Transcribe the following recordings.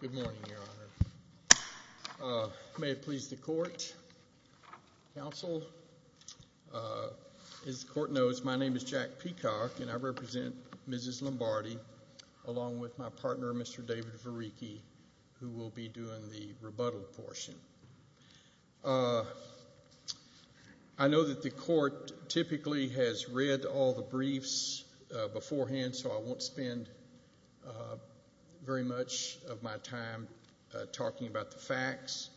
Good morning, Your Honor. May it please the court, counsel. As the court knows, my name is Jack Peacock, and I represent Mrs. Lombardi, along with my partner, Mr. David Variecky, who will be doing the rebuttal portion. I know that the court typically has read all the briefs beforehand, so I won't spend very much of my time talking about the facts.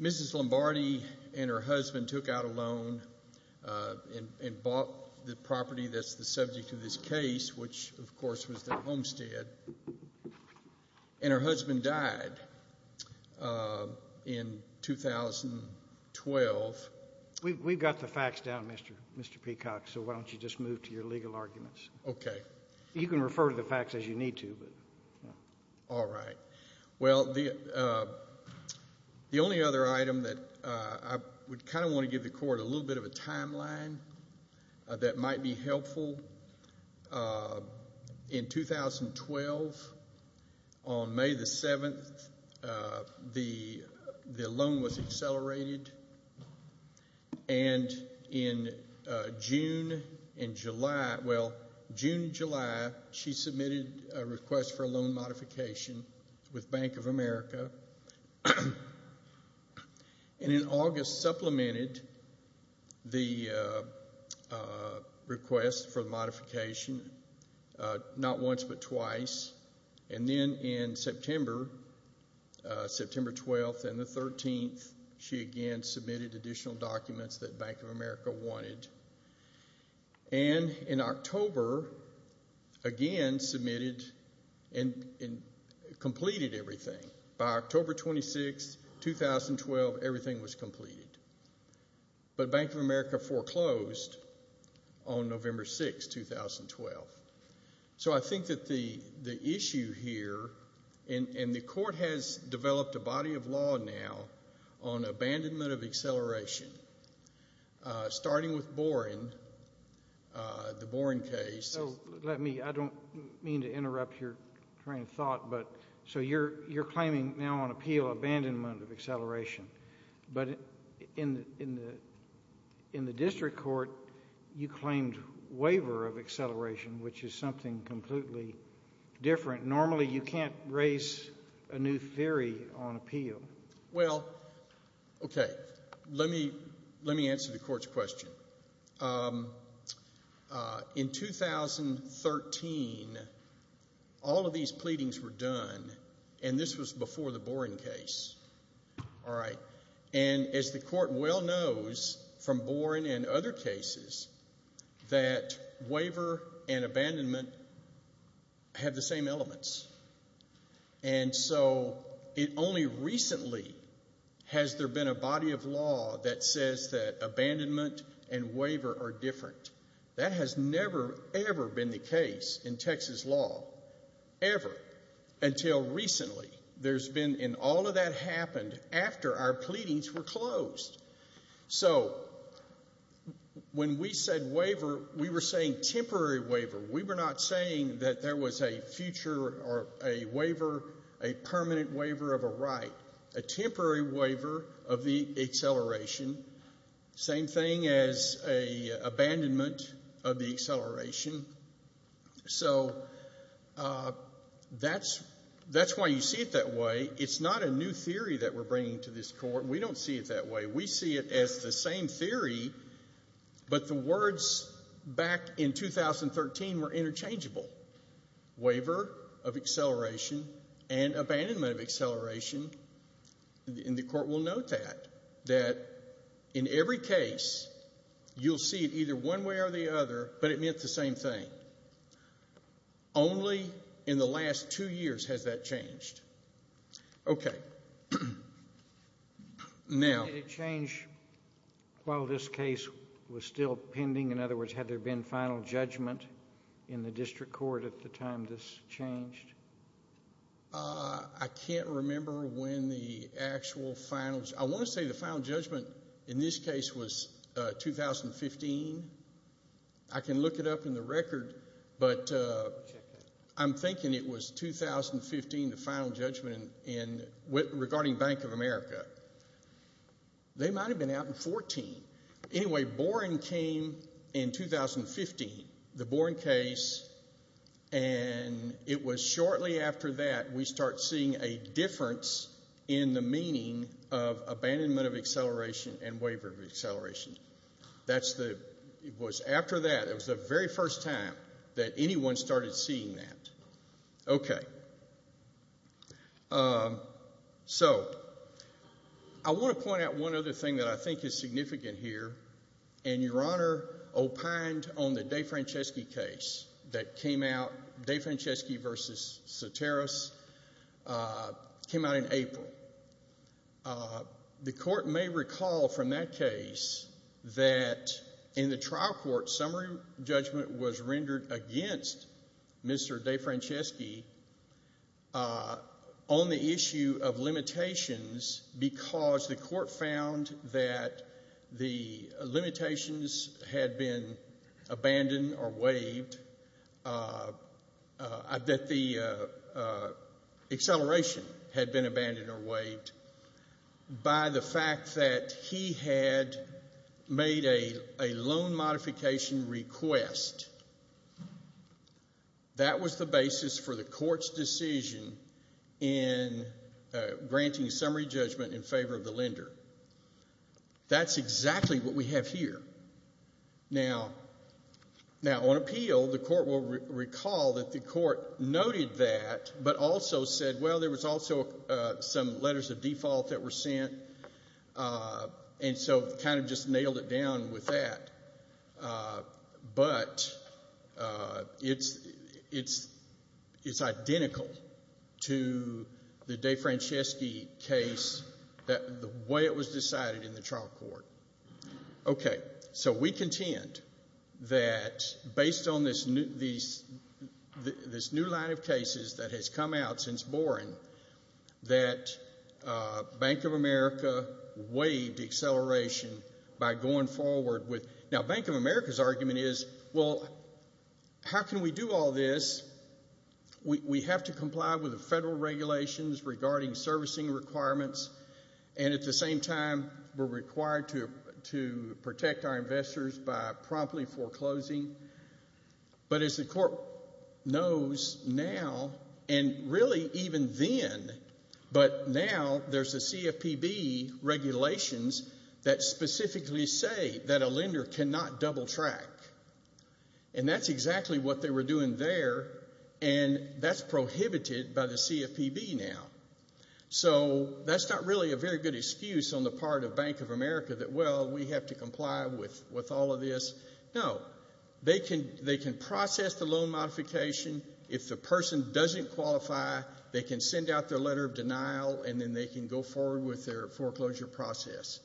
Mrs. Lombardi and her husband took out a loan and bought the property that's the subject of this case, which, of course, was their homestead, and her husband died in 2012. We've got the facts down, Mr. Peacock, so why don't you just move to your legal arguments. Okay. You can refer to the facts as you need to. All right. Well, the only other item that I would kind of want to give the court a little bit of a timeline that might be helpful. In 2012, on May the 7th, the loan was accelerated, and in June and July, well, June and July, she submitted a request for a loan modification with Bank of America. And in August, supplemented the request for the modification not once but twice, and then in September, September 12th and the 13th, she again submitted additional documents that Bank of America wanted. And in October, again submitted and completed everything. By October 26th, 2012, everything was completed. But Bank of America foreclosed on November 6th, 2012. So I think that the issue here, and the court has developed a body of law now on abandonment of acceleration, starting with Boren, the Boren case. So let me, I don't mean to interrupt your train of thought, but so you're claiming now on appeal abandonment of acceleration. But in the district court, you claimed waiver of acceleration, which is something completely different. Normally, you can't raise a new theory on appeal. Well, okay. Let me answer the court's question. In 2013, all of these pleadings were done, and this was before the Boren case. All right. And as the court well knows from Boren and other cases, that waiver and abandonment have the same elements. And so it only recently has there been a body of law that says that abandonment and waiver are different. That has never, ever been the case in Texas law, ever, until recently. There's been, and all of that happened after our pleadings were closed. So when we said waiver, we were saying temporary waiver. We were not saying that there was a future or a waiver, a permanent waiver of a right, a temporary waiver of the acceleration. Same thing as an abandonment of the acceleration. So that's why you see it that way. It's not a new theory that we're bringing to this court. We don't see it that way. We see it as the same theory, but the words back in 2013 were interchangeable. Waiver of acceleration and abandonment of acceleration, and the court will note that, that in every case, you'll see it either one way or the other, but it meant the same thing. Only in the last two years has that changed. Okay. Now. Did it change while this case was still pending? In other words, had there been final judgment in the district court at the time this changed? I can't remember when the actual final. I want to say the final judgment in this case was 2015. I can look it up in the record, but I'm thinking it was 2015, the final judgment regarding Bank of America. They might have been out in 14. Anyway, Boren came in 2015, the Boren case, and it was shortly after that we start seeing a difference in the meaning of abandonment of acceleration and waiver of acceleration. It was after that, it was the very first time that anyone started seeing that. Okay. So I want to point out one other thing that I think is significant here, and Your Honor opined on the DeFranceschi case that came out, DeFranceschi v. Soteros, came out in April. The court may recall from that case that in the trial court, summary judgment was rendered against Mr. DeFranceschi on the issue of limitations because the court found that the limitations had been abandoned or waived, that the acceleration had been abandoned or waived by the fact that he had made a loan modification request. That was the basis for the court's decision in granting summary judgment in favor of the lender. That's exactly what we have here. Now, on appeal, the court will recall that the court noted that but also said, well, there was also some letters of default that were sent, and so kind of just nailed it down with that. But it's identical to the DeFranceschi case, the way it was decided in the trial court. Okay. So we contend that based on this new line of cases that has come out since Boren, that Bank of America waived acceleration by going forward with – now, Bank of America's argument is, well, how can we do all this? We have to comply with the federal regulations regarding servicing requirements, and at the same time, we're required to protect our investors by promptly foreclosing. But as the court knows now, and really even then, but now there's the CFPB regulations that specifically say that a lender cannot double track, and that's exactly what they were doing there, and that's prohibited by the CFPB now. So that's not really a very good excuse on the part of Bank of America that, well, we have to comply with all of this. No. They can process the loan modification. If the person doesn't qualify, they can send out their letter of denial, and then they can go forward with their foreclosure process.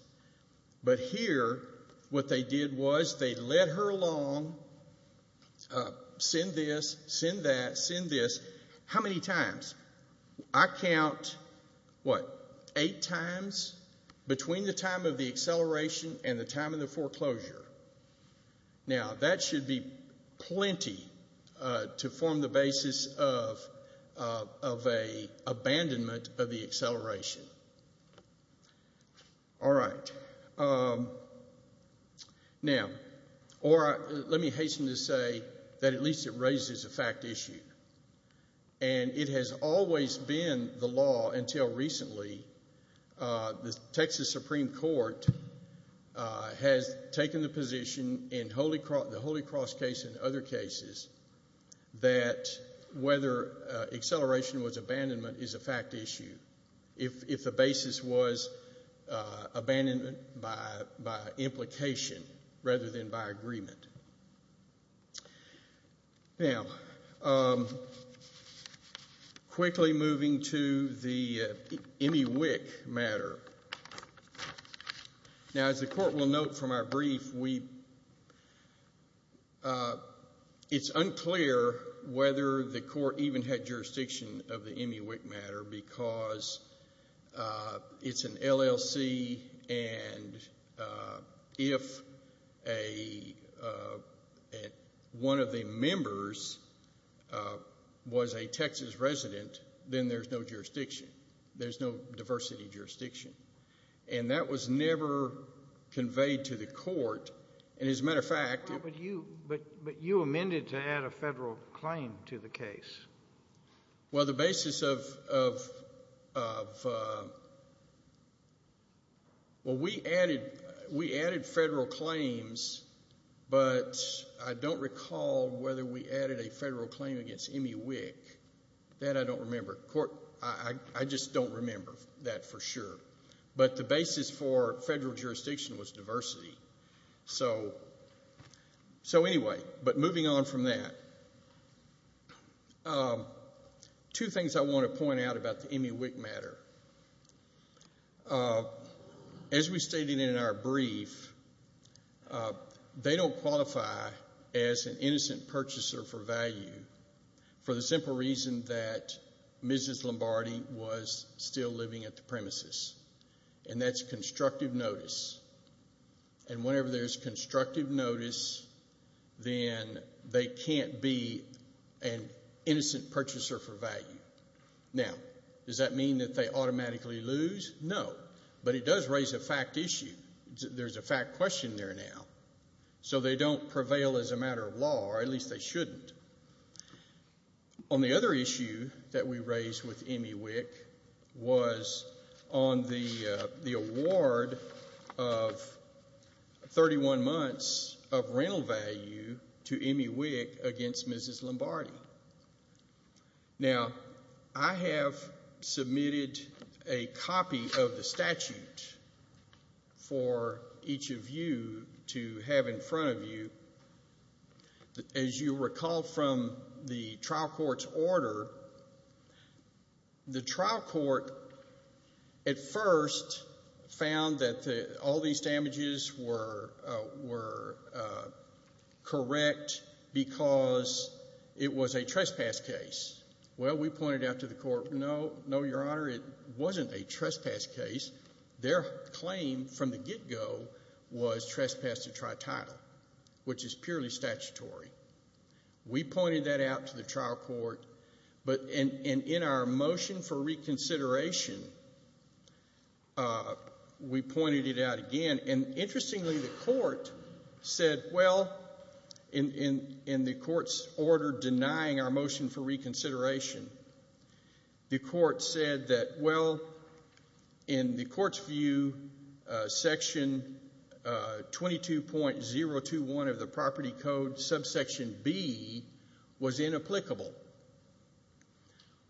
But here, what they did was they led her along, send this, send that, send this. How many times? I count, what, eight times between the time of the acceleration and the time of the foreclosure. Now, that should be plenty to form the basis of an abandonment of the acceleration. All right. Now, or let me hasten to say that at least it raises a fact issue, and it has always been the law until recently, the Texas Supreme Court has taken the position in the Holy Cross case and other cases that whether acceleration was abandonment is a fact issue, if the basis was abandonment by implication rather than by agreement. Now, quickly moving to the MEWIC matter. Now, as the court will note from our brief, it's unclear whether the court even had jurisdiction of the MEWIC matter because it's an LLC, and if one of the members was a Texas resident, then there's no jurisdiction. There's no diversity jurisdiction. And that was never conveyed to the court. And as a matter of fact— But you amended to add a federal claim to the case. Well, the basis of—well, we added federal claims, but I don't recall whether we added a federal claim against MEWIC. That I don't remember. I just don't remember that for sure. But the basis for federal jurisdiction was diversity. So anyway, but moving on from that, two things I want to point out about the MEWIC matter. As we stated in our brief, they don't qualify as an innocent purchaser for value for the simple reason that Mrs. Lombardi was still living at the premises, and that's constructive notice. And whenever there's constructive notice, then they can't be an innocent purchaser for value. Now, does that mean that they automatically lose? No, but it does raise a fact issue. There's a fact question there now. So they don't prevail as a matter of law, or at least they shouldn't. On the other issue that we raised with MEWIC was on the award of 31 months of rental value to MEWIC against Mrs. Lombardi. Now, I have submitted a copy of the statute for each of you to have in front of you. As you recall from the trial court's order, the trial court at first found that all these damages were correct because it was a trespass case. Well, we pointed out to the court, no, no, Your Honor, it wasn't a trespass case. Their claim from the get-go was trespass to try title, which is purely statutory. We pointed that out to the trial court, and in our motion for reconsideration, we pointed it out again. And interestingly, the court said, well, in the court's order denying our motion for reconsideration, the court said that, well, in the court's view, Section 22.021 of the Property Code, subsection B, was inapplicable.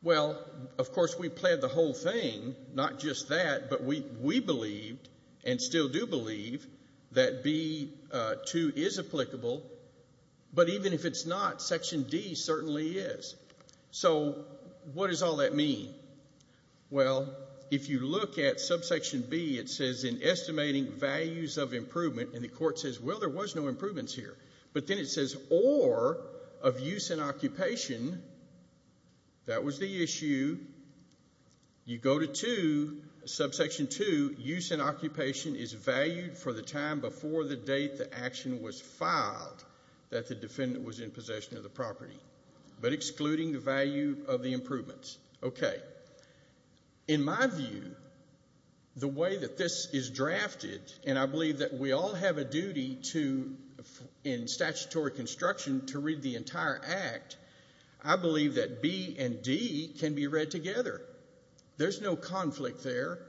Well, of course, we planned the whole thing, not just that, but we believed and still do believe that B2 is applicable. But even if it's not, Section D certainly is. So what does all that mean? Well, if you look at subsection B, it says, in estimating values of improvement, and the court says, well, there was no improvements here. But then it says, or of use and occupation, that was the issue. You go to 2, subsection 2, use and occupation is valued for the time before the date the action was filed that the defendant was in possession of the property. But excluding the value of the improvements. Okay. In my view, the way that this is drafted, and I believe that we all have a duty to, in statutory construction, to read the entire act, I believe that B and D can be read together. There's no conflict there.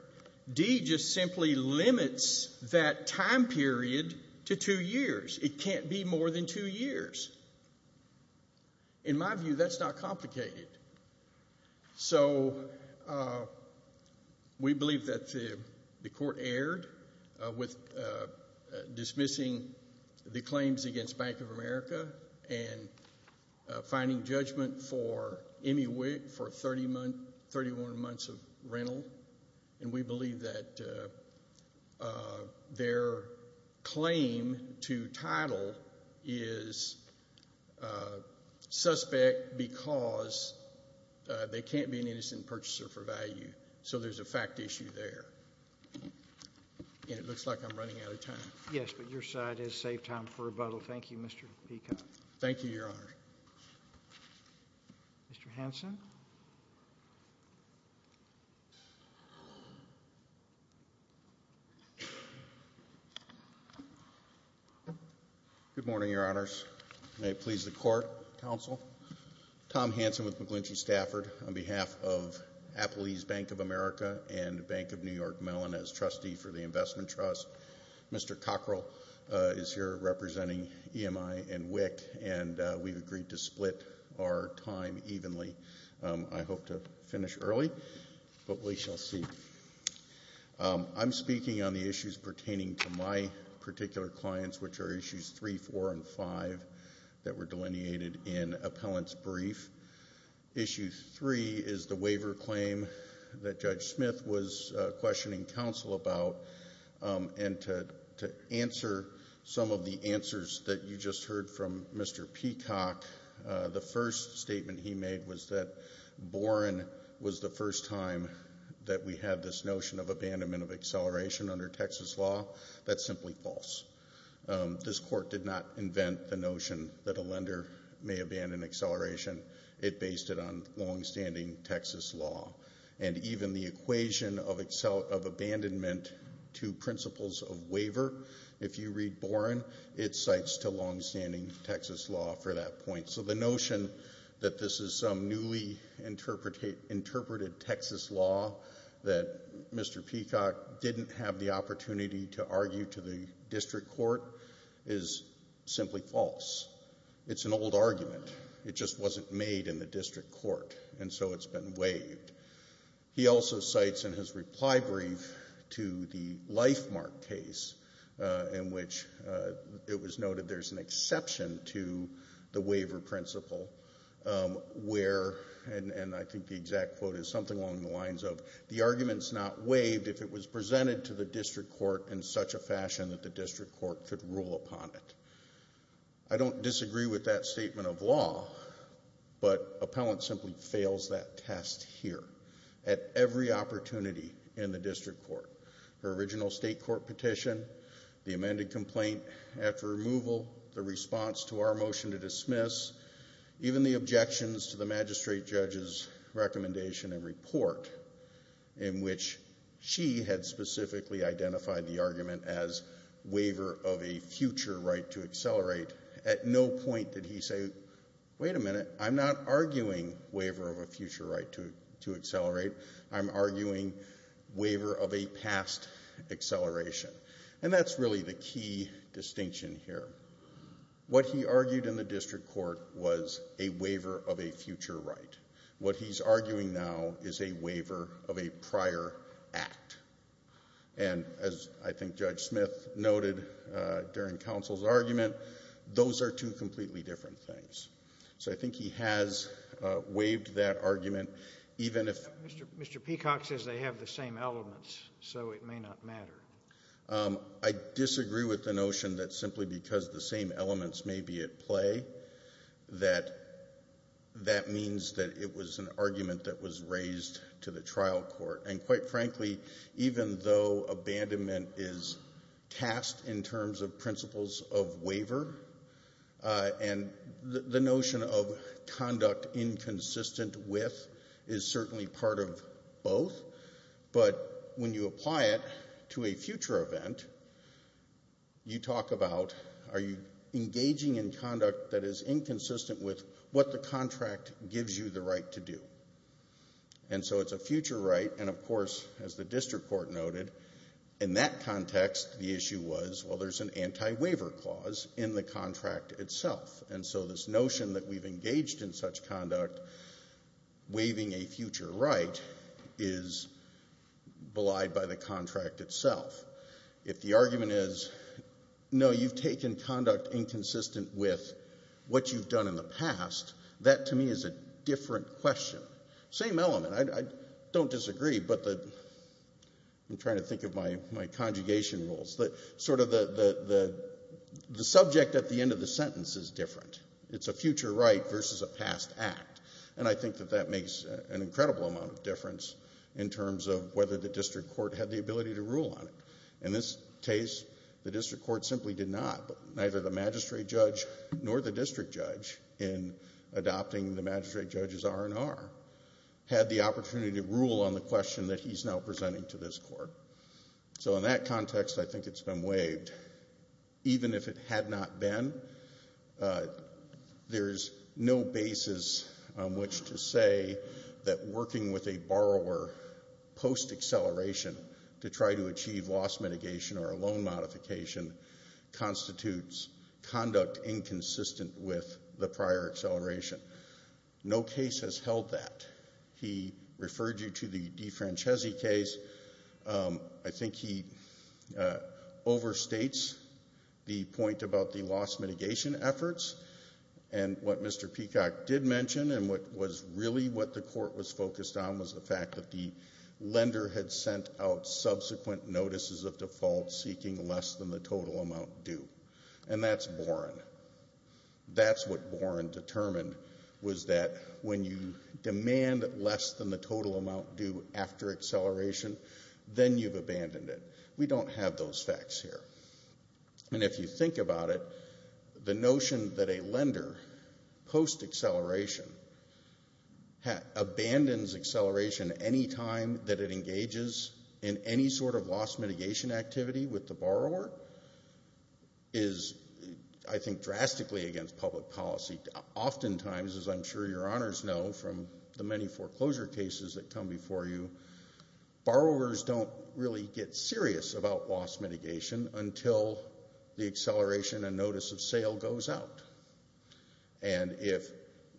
D just simply limits that time period to two years. It can't be more than two years. In my view, that's not complicated. So we believe that the court erred with dismissing the claims against Bank of America and finding judgment for Emmy Wick for 31 months of rental. And we believe that their claim to title is suspect because they can't be an innocent purchaser for value. So there's a fact issue there. And it looks like I'm running out of time. Yes, but your side has saved time for rebuttal. Thank you, Mr. Peacock. Thank you, Your Honor. Mr. Hanson. Good morning, Your Honors. May it please the court, counsel. Tom Hanson with McGlinchey Stafford on behalf of Appalachian Bank of America and Bank of New York Mellon as trustee for the investment trust. Mr. Cockrell is here representing EMI and Wick, and we've agreed to split our time evenly. I hope to finish early, but we shall see. I'm speaking on the issues pertaining to my particular clients, which are issues three, four, and five that were delineated in appellant's brief. Issue three is the waiver claim that Judge Smith was questioning counsel about. And to answer some of the answers that you just heard from Mr. Peacock, the first statement he made was that Boren was the first time that we had this notion of abandonment of acceleration under Texas law. That's simply false. This court did not invent the notion that a lender may abandon acceleration. It based it on longstanding Texas law. And even the equation of abandonment to principles of waiver, if you read Boren, it cites to longstanding Texas law for that point. So the notion that this is some newly interpreted Texas law that Mr. Peacock didn't have the opportunity to argue to the district court is simply false. It's an old argument. It just wasn't made in the district court, and so it's been waived. He also cites in his reply brief to the Lifemark case in which it was noted there's an exception to the waiver principle where, and I think the exact quote is something along the lines of, the argument's not waived if it was presented to the district court in such a fashion that the district court could rule upon it. I don't disagree with that statement of law, but Appellant simply fails that test here at every opportunity in the district court. Her original state court petition, the amended complaint after removal, the response to our motion to dismiss, even the objections to the magistrate judge's recommendation and report in which she had specifically identified the argument as waiver of a future right to accelerate, at no point did he say, wait a minute, I'm not arguing waiver of a future right to accelerate. I'm arguing waiver of a past acceleration. And that's really the key distinction here. What he argued in the district court was a waiver of a future right. What he's arguing now is a waiver of a prior act. And as I think Judge Smith noted during counsel's argument, those are two completely different things. So I think he has waived that argument, even if— Mr. Peacock says they have the same elements, so it may not matter. I disagree with the notion that simply because the same elements may be at play, that that means that it was an argument that was raised to the trial court. And quite frankly, even though abandonment is tasked in terms of principles of waiver, and the notion of conduct inconsistent with is certainly part of both, but when you apply it to a future event, you talk about, are you engaging in conduct that is inconsistent with what the contract gives you the right to do? And so it's a future right, and of course, as the district court noted, in that context the issue was, well, there's an anti-waiver clause in the contract itself. And so this notion that we've engaged in such conduct, waiving a future right, is belied by the contract itself. If the argument is, no, you've taken conduct inconsistent with what you've done in the past, that to me is a different question. Same element. I don't disagree, but the—I'm trying to think of my conjugation rules. Sort of the subject at the end of the sentence is different. It's a future right versus a past act. And I think that that makes an incredible amount of difference in terms of whether the district court had the ability to rule on it. In this case, the district court simply did not, but neither the magistrate judge nor the district judge in adopting the magistrate judge's R&R had the opportunity to rule on the question that he's now presenting to this court. So in that context, I think it's been waived. Even if it had not been, there's no basis on which to say that working with a borrower post-acceleration to try to achieve loss mitigation or a loan modification constitutes conduct inconsistent with the prior acceleration. No case has held that. He referred you to the DeFrancesi case. I think he overstates the point about the loss mitigation efforts. And what Mr. Peacock did mention and what was really what the court was focused on was the fact that the lender had sent out subsequent notices of default seeking less than the total amount due. And that's boring. That's what boring determined was that when you demand less than the total amount due after acceleration, then you've abandoned it. We don't have those facts here. And if you think about it, the notion that a lender post-acceleration abandons acceleration any time that it engages in any sort of loss mitigation activity with the borrower is, I think, drastically against public policy. Oftentimes, as I'm sure your honors know from the many foreclosure cases that come before you, borrowers don't really get serious about loss mitigation until the acceleration and notice of sale goes out. And if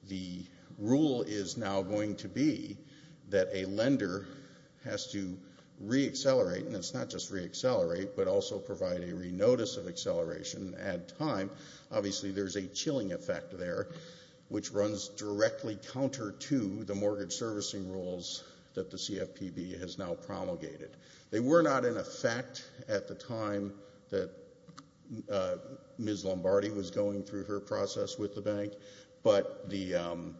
the rule is now going to be that a lender has to re-accelerate, and it's not just re-accelerate, but also provide a re-notice of acceleration and add time, obviously there's a chilling effect there, which runs directly counter to the mortgage servicing rules that the CFPB has now promulgated. They were not in effect at the time that Ms. Lombardi was going through her process with the bank, but the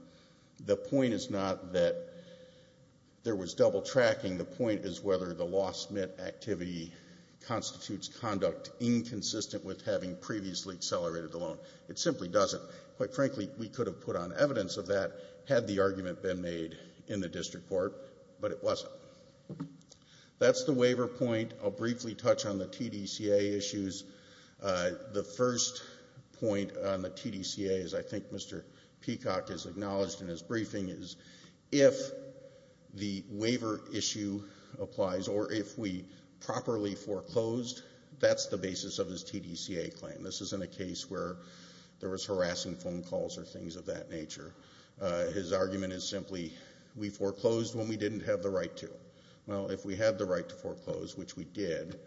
point is not that there was double tracking. The point is whether the loss mit activity constitutes conduct inconsistent with having previously accelerated the loan. It simply doesn't. Quite frankly, we could have put on evidence of that had the argument been made in the district court, but it wasn't. That's the waiver point. I'll briefly touch on the TDCA issues. The first point on the TDCA, as I think Mr. Peacock has acknowledged in his briefing, is if the waiver issue applies or if we properly foreclosed, that's the basis of his TDCA claim. This isn't a case where there was harassing phone calls or things of that nature. His argument is simply we foreclosed when we didn't have the right to. Well, if we had the right to foreclose, which we did,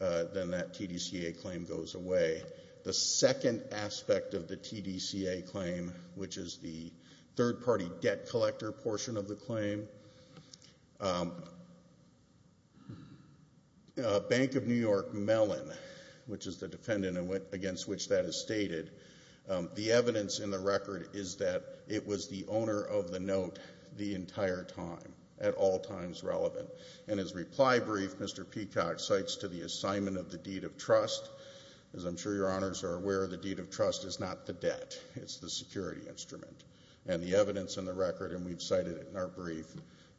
then that TDCA claim goes away. The second aspect of the TDCA claim, which is the third-party debt collector portion of the claim, Bank of New York Mellon, which is the defendant against which that is stated, the evidence in the record is that it was the owner of the note the entire time, at all times relevant. In his reply brief, Mr. Peacock cites to the assignment of the deed of trust. As I'm sure your honors are aware, the deed of trust is not the debt. It's the security instrument. And the evidence in the record, and we've cited it in our brief,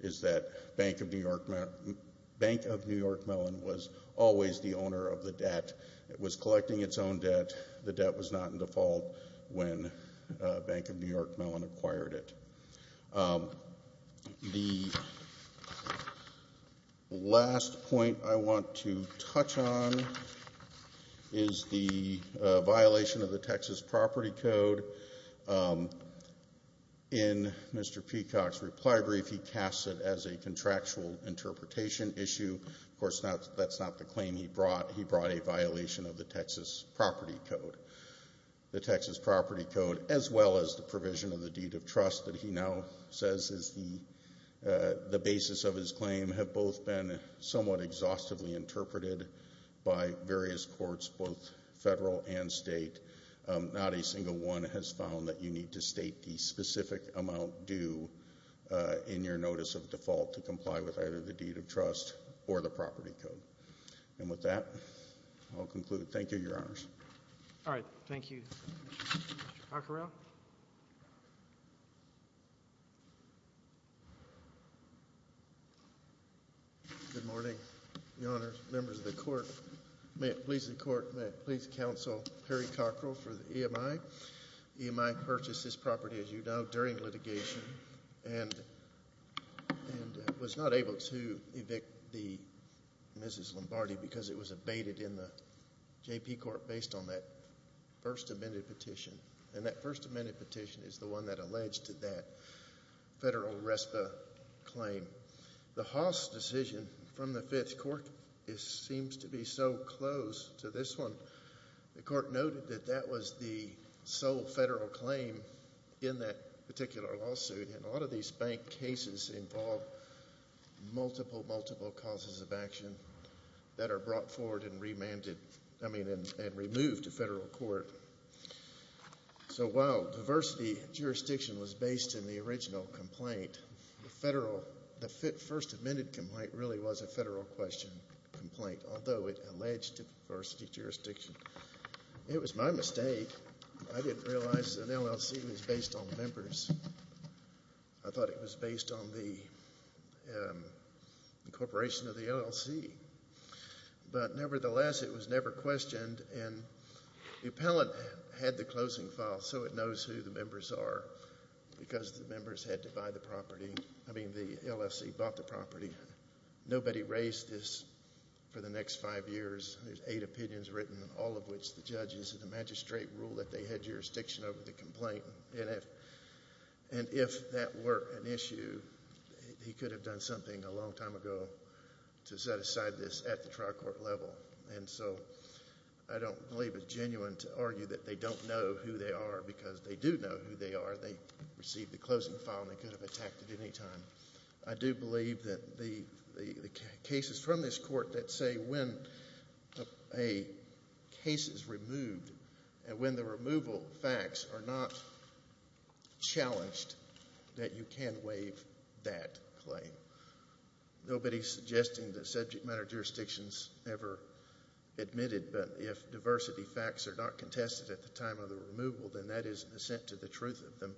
is that Bank of New York Mellon was always the owner of the debt. It was collecting its own debt. The debt was not in default when Bank of New York Mellon acquired it. The last point I want to touch on is the violation of the Texas property code. In Mr. Peacock's reply brief, he casts it as a contractual interpretation issue. Of course, that's not the claim he brought. He brought a violation of the Texas property code. The Texas property code as well as the provision of the deed of trust that he now says is the basis of his claim have both been somewhat exhaustively interpreted by various courts, both federal and state. Not a single one has found that you need to state the specific amount due in your notice of default to comply with either the deed of trust or the property code. And with that, I'll conclude. Thank you, your honors. All right. Thank you. Mr. Cockerell. Good morning, your honors, members of the court. Please counsel Perry Cockerell for the EMI. EMI purchased this property, as you know, during litigation and was not able to evict Mrs. Lombardi because it was abated in the JP court based on that first amended petition. And that first amended petition is the one that alleged to that federal RESPA claim. The Haas decision from the fifth court seems to be so close to this one. The court noted that that was the sole federal claim in that particular lawsuit, and a lot of these bank cases involve multiple, multiple causes of action that are brought forward and remanded, I mean, and removed to federal court. So while diversity jurisdiction was based in the original complaint, the first amended complaint really was a federal question complaint, although it alleged diversity jurisdiction. It was my mistake. I didn't realize an LLC was based on members. I thought it was based on the incorporation of the LLC. But nevertheless, it was never questioned, and the appellant had the closing file, so it knows who the members are because the members had to buy the property. I mean, the LLC bought the property. Nobody raised this for the next five years. There's eight opinions written, all of which the judges and the magistrate rule that they had jurisdiction over the complaint. And if that were an issue, he could have done something a long time ago to set aside this at the trial court level. And so I don't believe it's genuine to argue that they don't know who they are because they do know who they are. They received the closing file, and they could have attacked at any time. I do believe that the cases from this court that say when a case is removed and when the removal facts are not challenged, that you can waive that claim. Nobody is suggesting that subject matter jurisdictions ever admitted, but if diversity facts are not contested at the time of the removal, then that is an assent to the truth of them.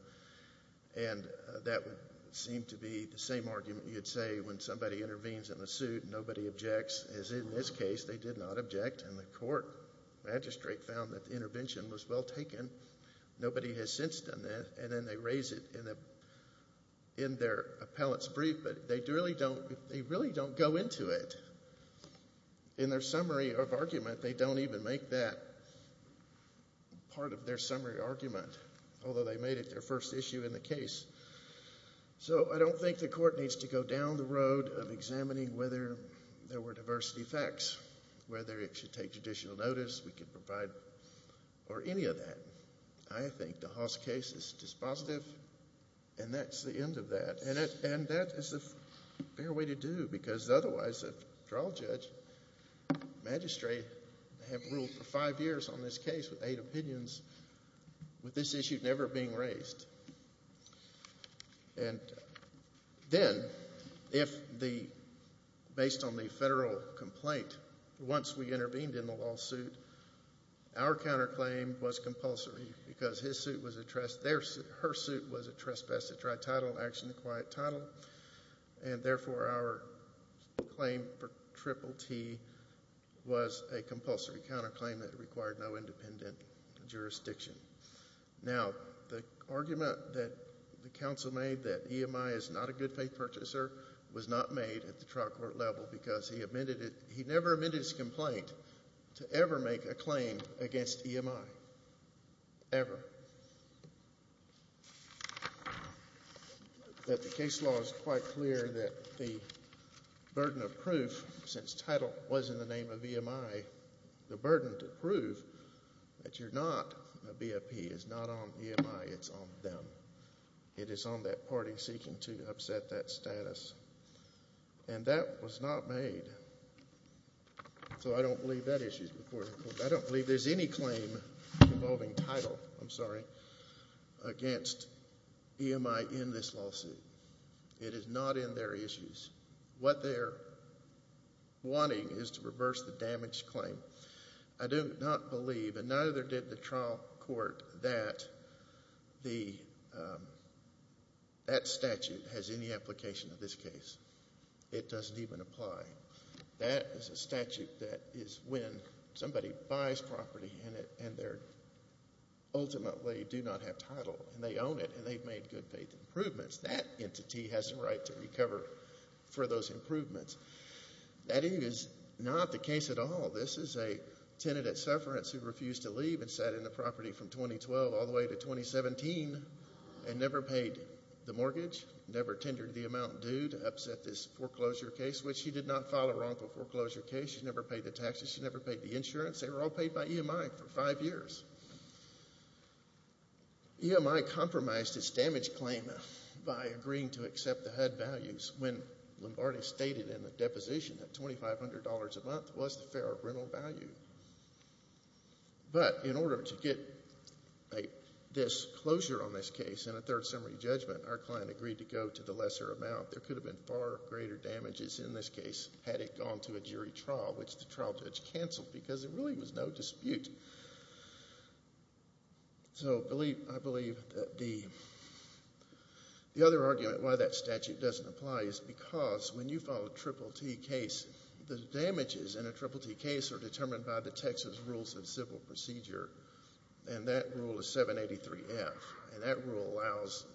And that would seem to be the same argument you'd say when somebody intervenes in a suit and nobody objects, as in this case they did not object, and the court magistrate found that the intervention was well taken. Nobody has since done that. And then they raise it in their appellate's brief, but they really don't go into it. In their summary of argument, they don't even make that part of their summary argument, although they made it their first issue in the case. So I don't think the court needs to go down the road of examining whether there were diversity facts, whether it should take judicial notice, we could provide, or any of that. I think the Haas case is dispositive, and that's the end of that. And that is the fair way to do it, because otherwise the trial judge, magistrate, they have ruled for five years on this case with eight opinions, with this issue never being raised. And then, based on the federal complaint, once we intervened in the lawsuit, our counterclaim was compulsory because his suit was a trespass, her suit was a trespass to try title, action to quiet title, and therefore our claim for Triple T was a compulsory counterclaim that required no independent jurisdiction. Now, the argument that the counsel made that EMI is not a good faith purchaser was not made at the trial court level because he never admitted his complaint to ever make a claim against EMI, ever. But the case law is quite clear that the burden of proof, since title was in the name of EMI, the burden to prove that you're not a BFP is not on EMI, it's on them. It is on that party seeking to upset that status. And that was not made, so I don't believe that issue is before the court. I don't believe there's any claim involving title, I'm sorry, against EMI in this lawsuit. It is not in their issues. What they're wanting is to reverse the damaged claim. I do not believe, and neither did the trial court, that that statute has any application in this case. It doesn't even apply. That is a statute that is when somebody buys property and they ultimately do not have title, and they own it and they've made good faith improvements. That entity has the right to recover for those improvements. That is not the case at all. This is a tenant at Sufferance who refused to leave and sat in the property from 2012 all the way to 2017 and never paid the mortgage, never tendered the amount due to upset this foreclosure case, which she did not file a wrongful foreclosure case. She never paid the taxes. She never paid the insurance. They were all paid by EMI for five years. EMI compromised its damaged claim by agreeing to accept the HUD values when Lombardi stated in the deposition that $2,500 a month was the fair rental value. But in order to get this closure on this case in a third summary judgment, our client agreed to go to the lesser amount. There could have been far greater damages in this case had it gone to a jury trial, which the trial judge canceled because there really was no dispute. So I believe that the other argument why that statute doesn't apply is because when you file a Triple T case, the damages in a Triple T case are determined by the Texas Rules of Civil Procedure, and that rule is 783F, and that rule allows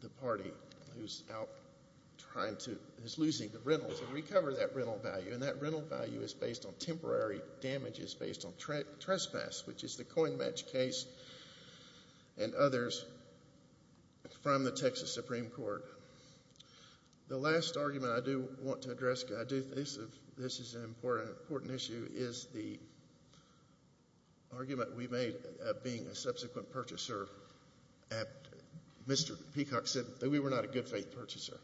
the party who is losing the rental to recover that rental value, and that rental value is based on temporary damages based on trespass, which is the coin match case and others from the Texas Supreme Court. The last argument I do want to address, this is an important issue, is the argument we made of being a subsequent purchaser. Mr. Peacock said that we were not a good faith purchaser,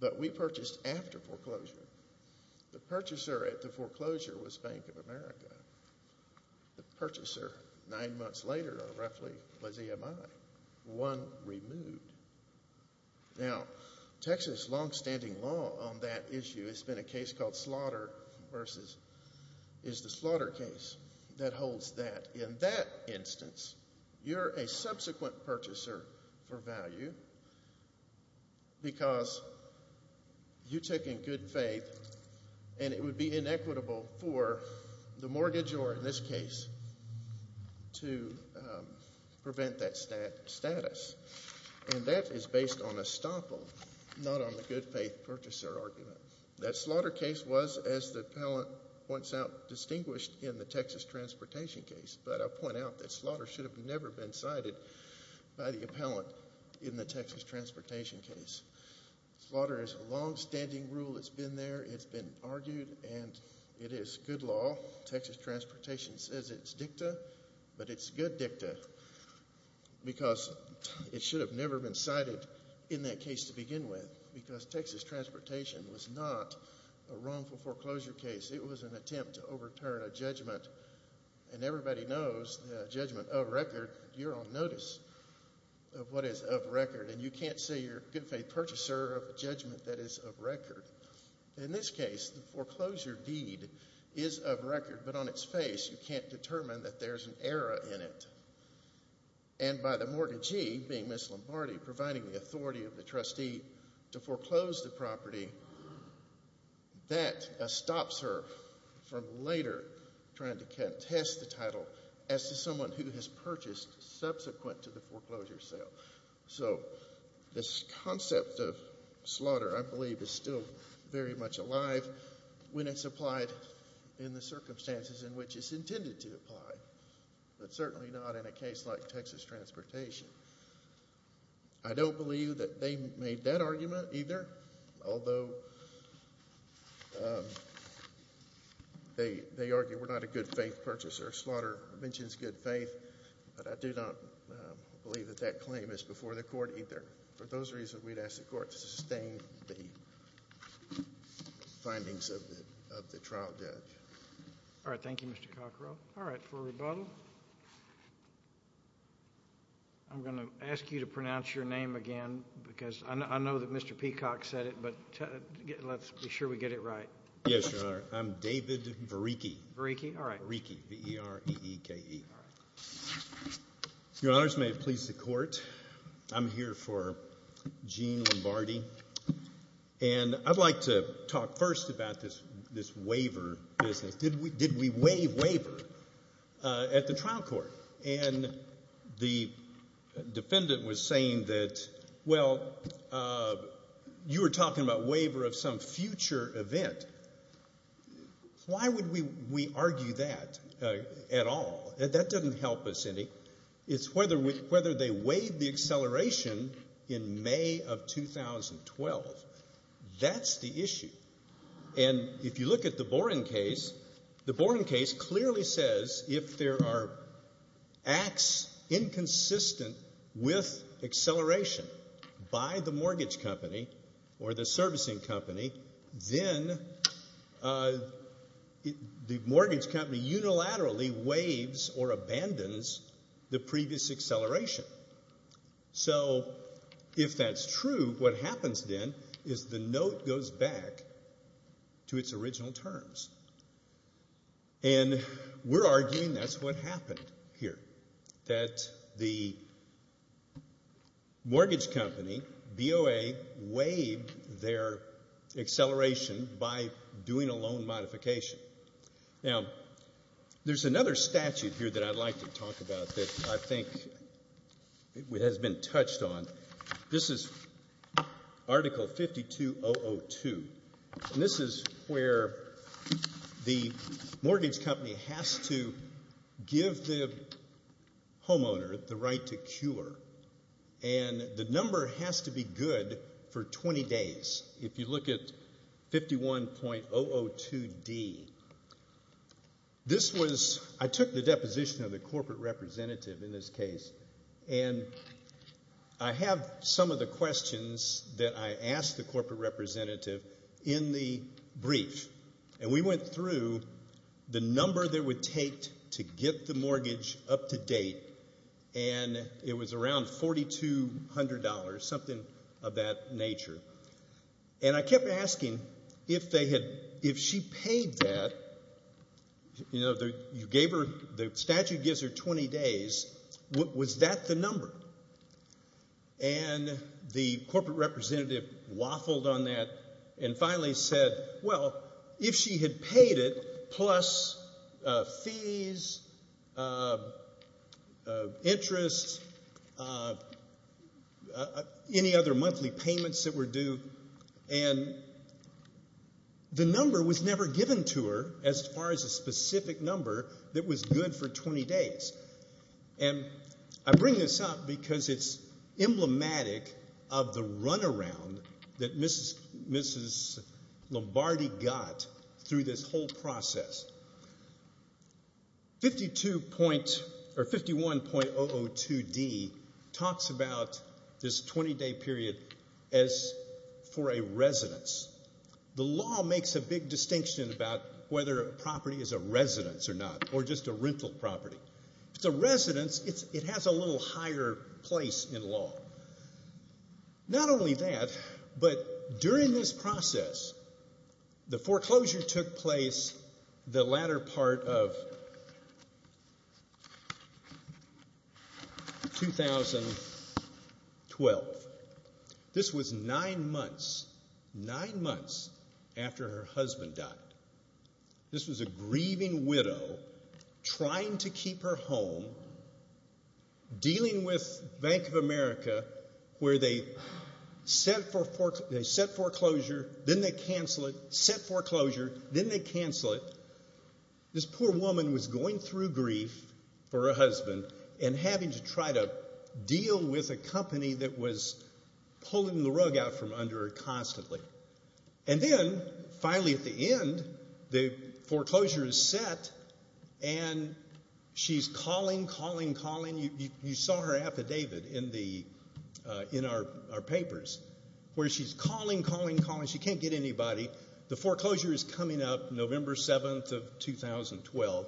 but we purchased after foreclosure. The purchaser at the foreclosure was Bank of America. The purchaser nine months later roughly was EMI, one removed. Now, Texas longstanding law on that issue has been a case called slaughter versus is the slaughter case that holds that. In that instance, you're a subsequent purchaser for value because you took in good faith, and it would be inequitable for the mortgage, or in this case, to prevent that status. And that is based on estoppel, not on the good faith purchaser argument. That slaughter case was, as the appellant points out, distinguished in the Texas transportation case, but I'll point out that slaughter should have never been cited by the appellant in the Texas transportation case. Slaughter is a longstanding rule. It's been there. It's been argued, and it is good law. Texas transportation says it's dicta, but it's good dicta because it should have never been cited in that case to begin with because Texas transportation was not a wrongful foreclosure case. It was an attempt to overturn a judgment, and everybody knows the judgment of record. You're on notice of what is of record, and you can't say you're a good faith purchaser of a judgment that is of record. In this case, the foreclosure deed is of record, but on its face you can't determine that there's an error in it. And by the mortgagee, being Ms. Lombardi, providing the authority of the trustee to foreclose the property, that stops her from later trying to contest the title as to someone who has purchased subsequent to the foreclosure sale. So this concept of slaughter, I believe, is still very much alive when it's applied in the circumstances in which it's intended to apply, but certainly not in a case like Texas transportation. I don't believe that they made that argument either, although they argue we're not a good faith purchaser. Slaughter mentions good faith, but I do not believe that that claim is before the court either. For those reasons, we'd ask the court to sustain the findings of the trial judge. All right. Thank you, Mr. Cockrell. All right. For rebuttal, I'm going to ask you to pronounce your name again because I know that Mr. Peacock said it, but let's be sure we get it right. Yes, Your Honor. I'm David Vereeke. Vereeke? All right. Vereeke, V-E-R-E-E-K-E-R. Your Honors, may it please the Court, I'm here for Gene Lombardi, and I'd like to talk first about this waiver business. Did we waive waiver at the trial court? And the defendant was saying that, well, you were talking about waiver of some future event. Why would we argue that at all? That doesn't help us any. It's whether they waived the acceleration in May of 2012. That's the issue. And if you look at the Boren case, the Boren case clearly says if there are acts inconsistent with acceleration by the mortgage company or the servicing company, then the mortgage company unilaterally waives or abandons the previous acceleration. So if that's true, what happens then is the note goes back to its original terms. And we're arguing that's what happened here, that the mortgage company, BOA, waived their acceleration by doing a loan modification. Now, there's another statute here that I'd like to talk about that I think has been touched on. This is Article 52002. And this is where the mortgage company has to give the homeowner the right to cure. And the number has to be good for 20 days, if you look at 51.002D. This was, I took the deposition of the corporate representative in this case, and I have some of the questions that I asked the corporate representative in the brief. And we went through the number that it would take to get the mortgage up to date, and it was around $4,200, something of that nature. And I kept asking if they had, if she paid that, you know, you gave her, the statute gives her 20 days, was that the number? And the corporate representative waffled on that and finally said, well, if she had paid it plus fees, interest, any other monthly payments that were due, and the number was never given to her as far as a specific number that was good for 20 days. And I bring this up because it's emblematic of the runaround that Mrs. Lombardi got through this whole process. 51.002D talks about this 20-day period as for a residence. The law makes a big distinction about whether a property is a residence or not, or just a rental property. If it's a residence, it has a little higher place in law. Not only that, but during this process, the foreclosure took place the latter part of 2012. This was nine months, nine months after her husband died. This was a grieving widow trying to keep her home, dealing with Bank of America, where they set foreclosure, then they cancel it, set foreclosure, then they cancel it. This poor woman was going through grief for her husband and having to try to deal with a company that was pulling the rug out from under her constantly. And then finally at the end, the foreclosure is set, and she's calling, calling, calling. You saw her affidavit in our papers where she's calling, calling, calling. She can't get anybody. The foreclosure is coming up November 7th of 2012,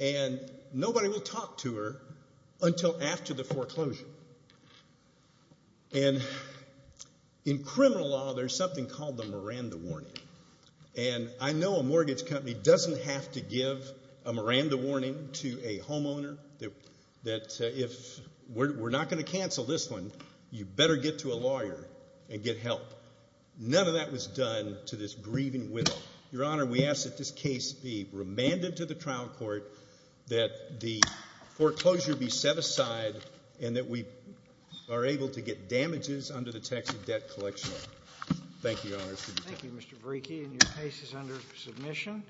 and nobody will talk to her until after the foreclosure. And in criminal law, there's something called the Miranda warning. And I know a mortgage company doesn't have to give a Miranda warning to a homeowner that if we're not going to cancel this one, you better get to a lawyer and get help. None of that was done to this grieving widow. Your Honor, we ask that this case be remanded to the trial court, that the foreclosure be set aside, and that we are able to get damages under the tax and debt collection law. Thank you, Your Honor. Thank you, Mr. Brieke. And your case is under submission.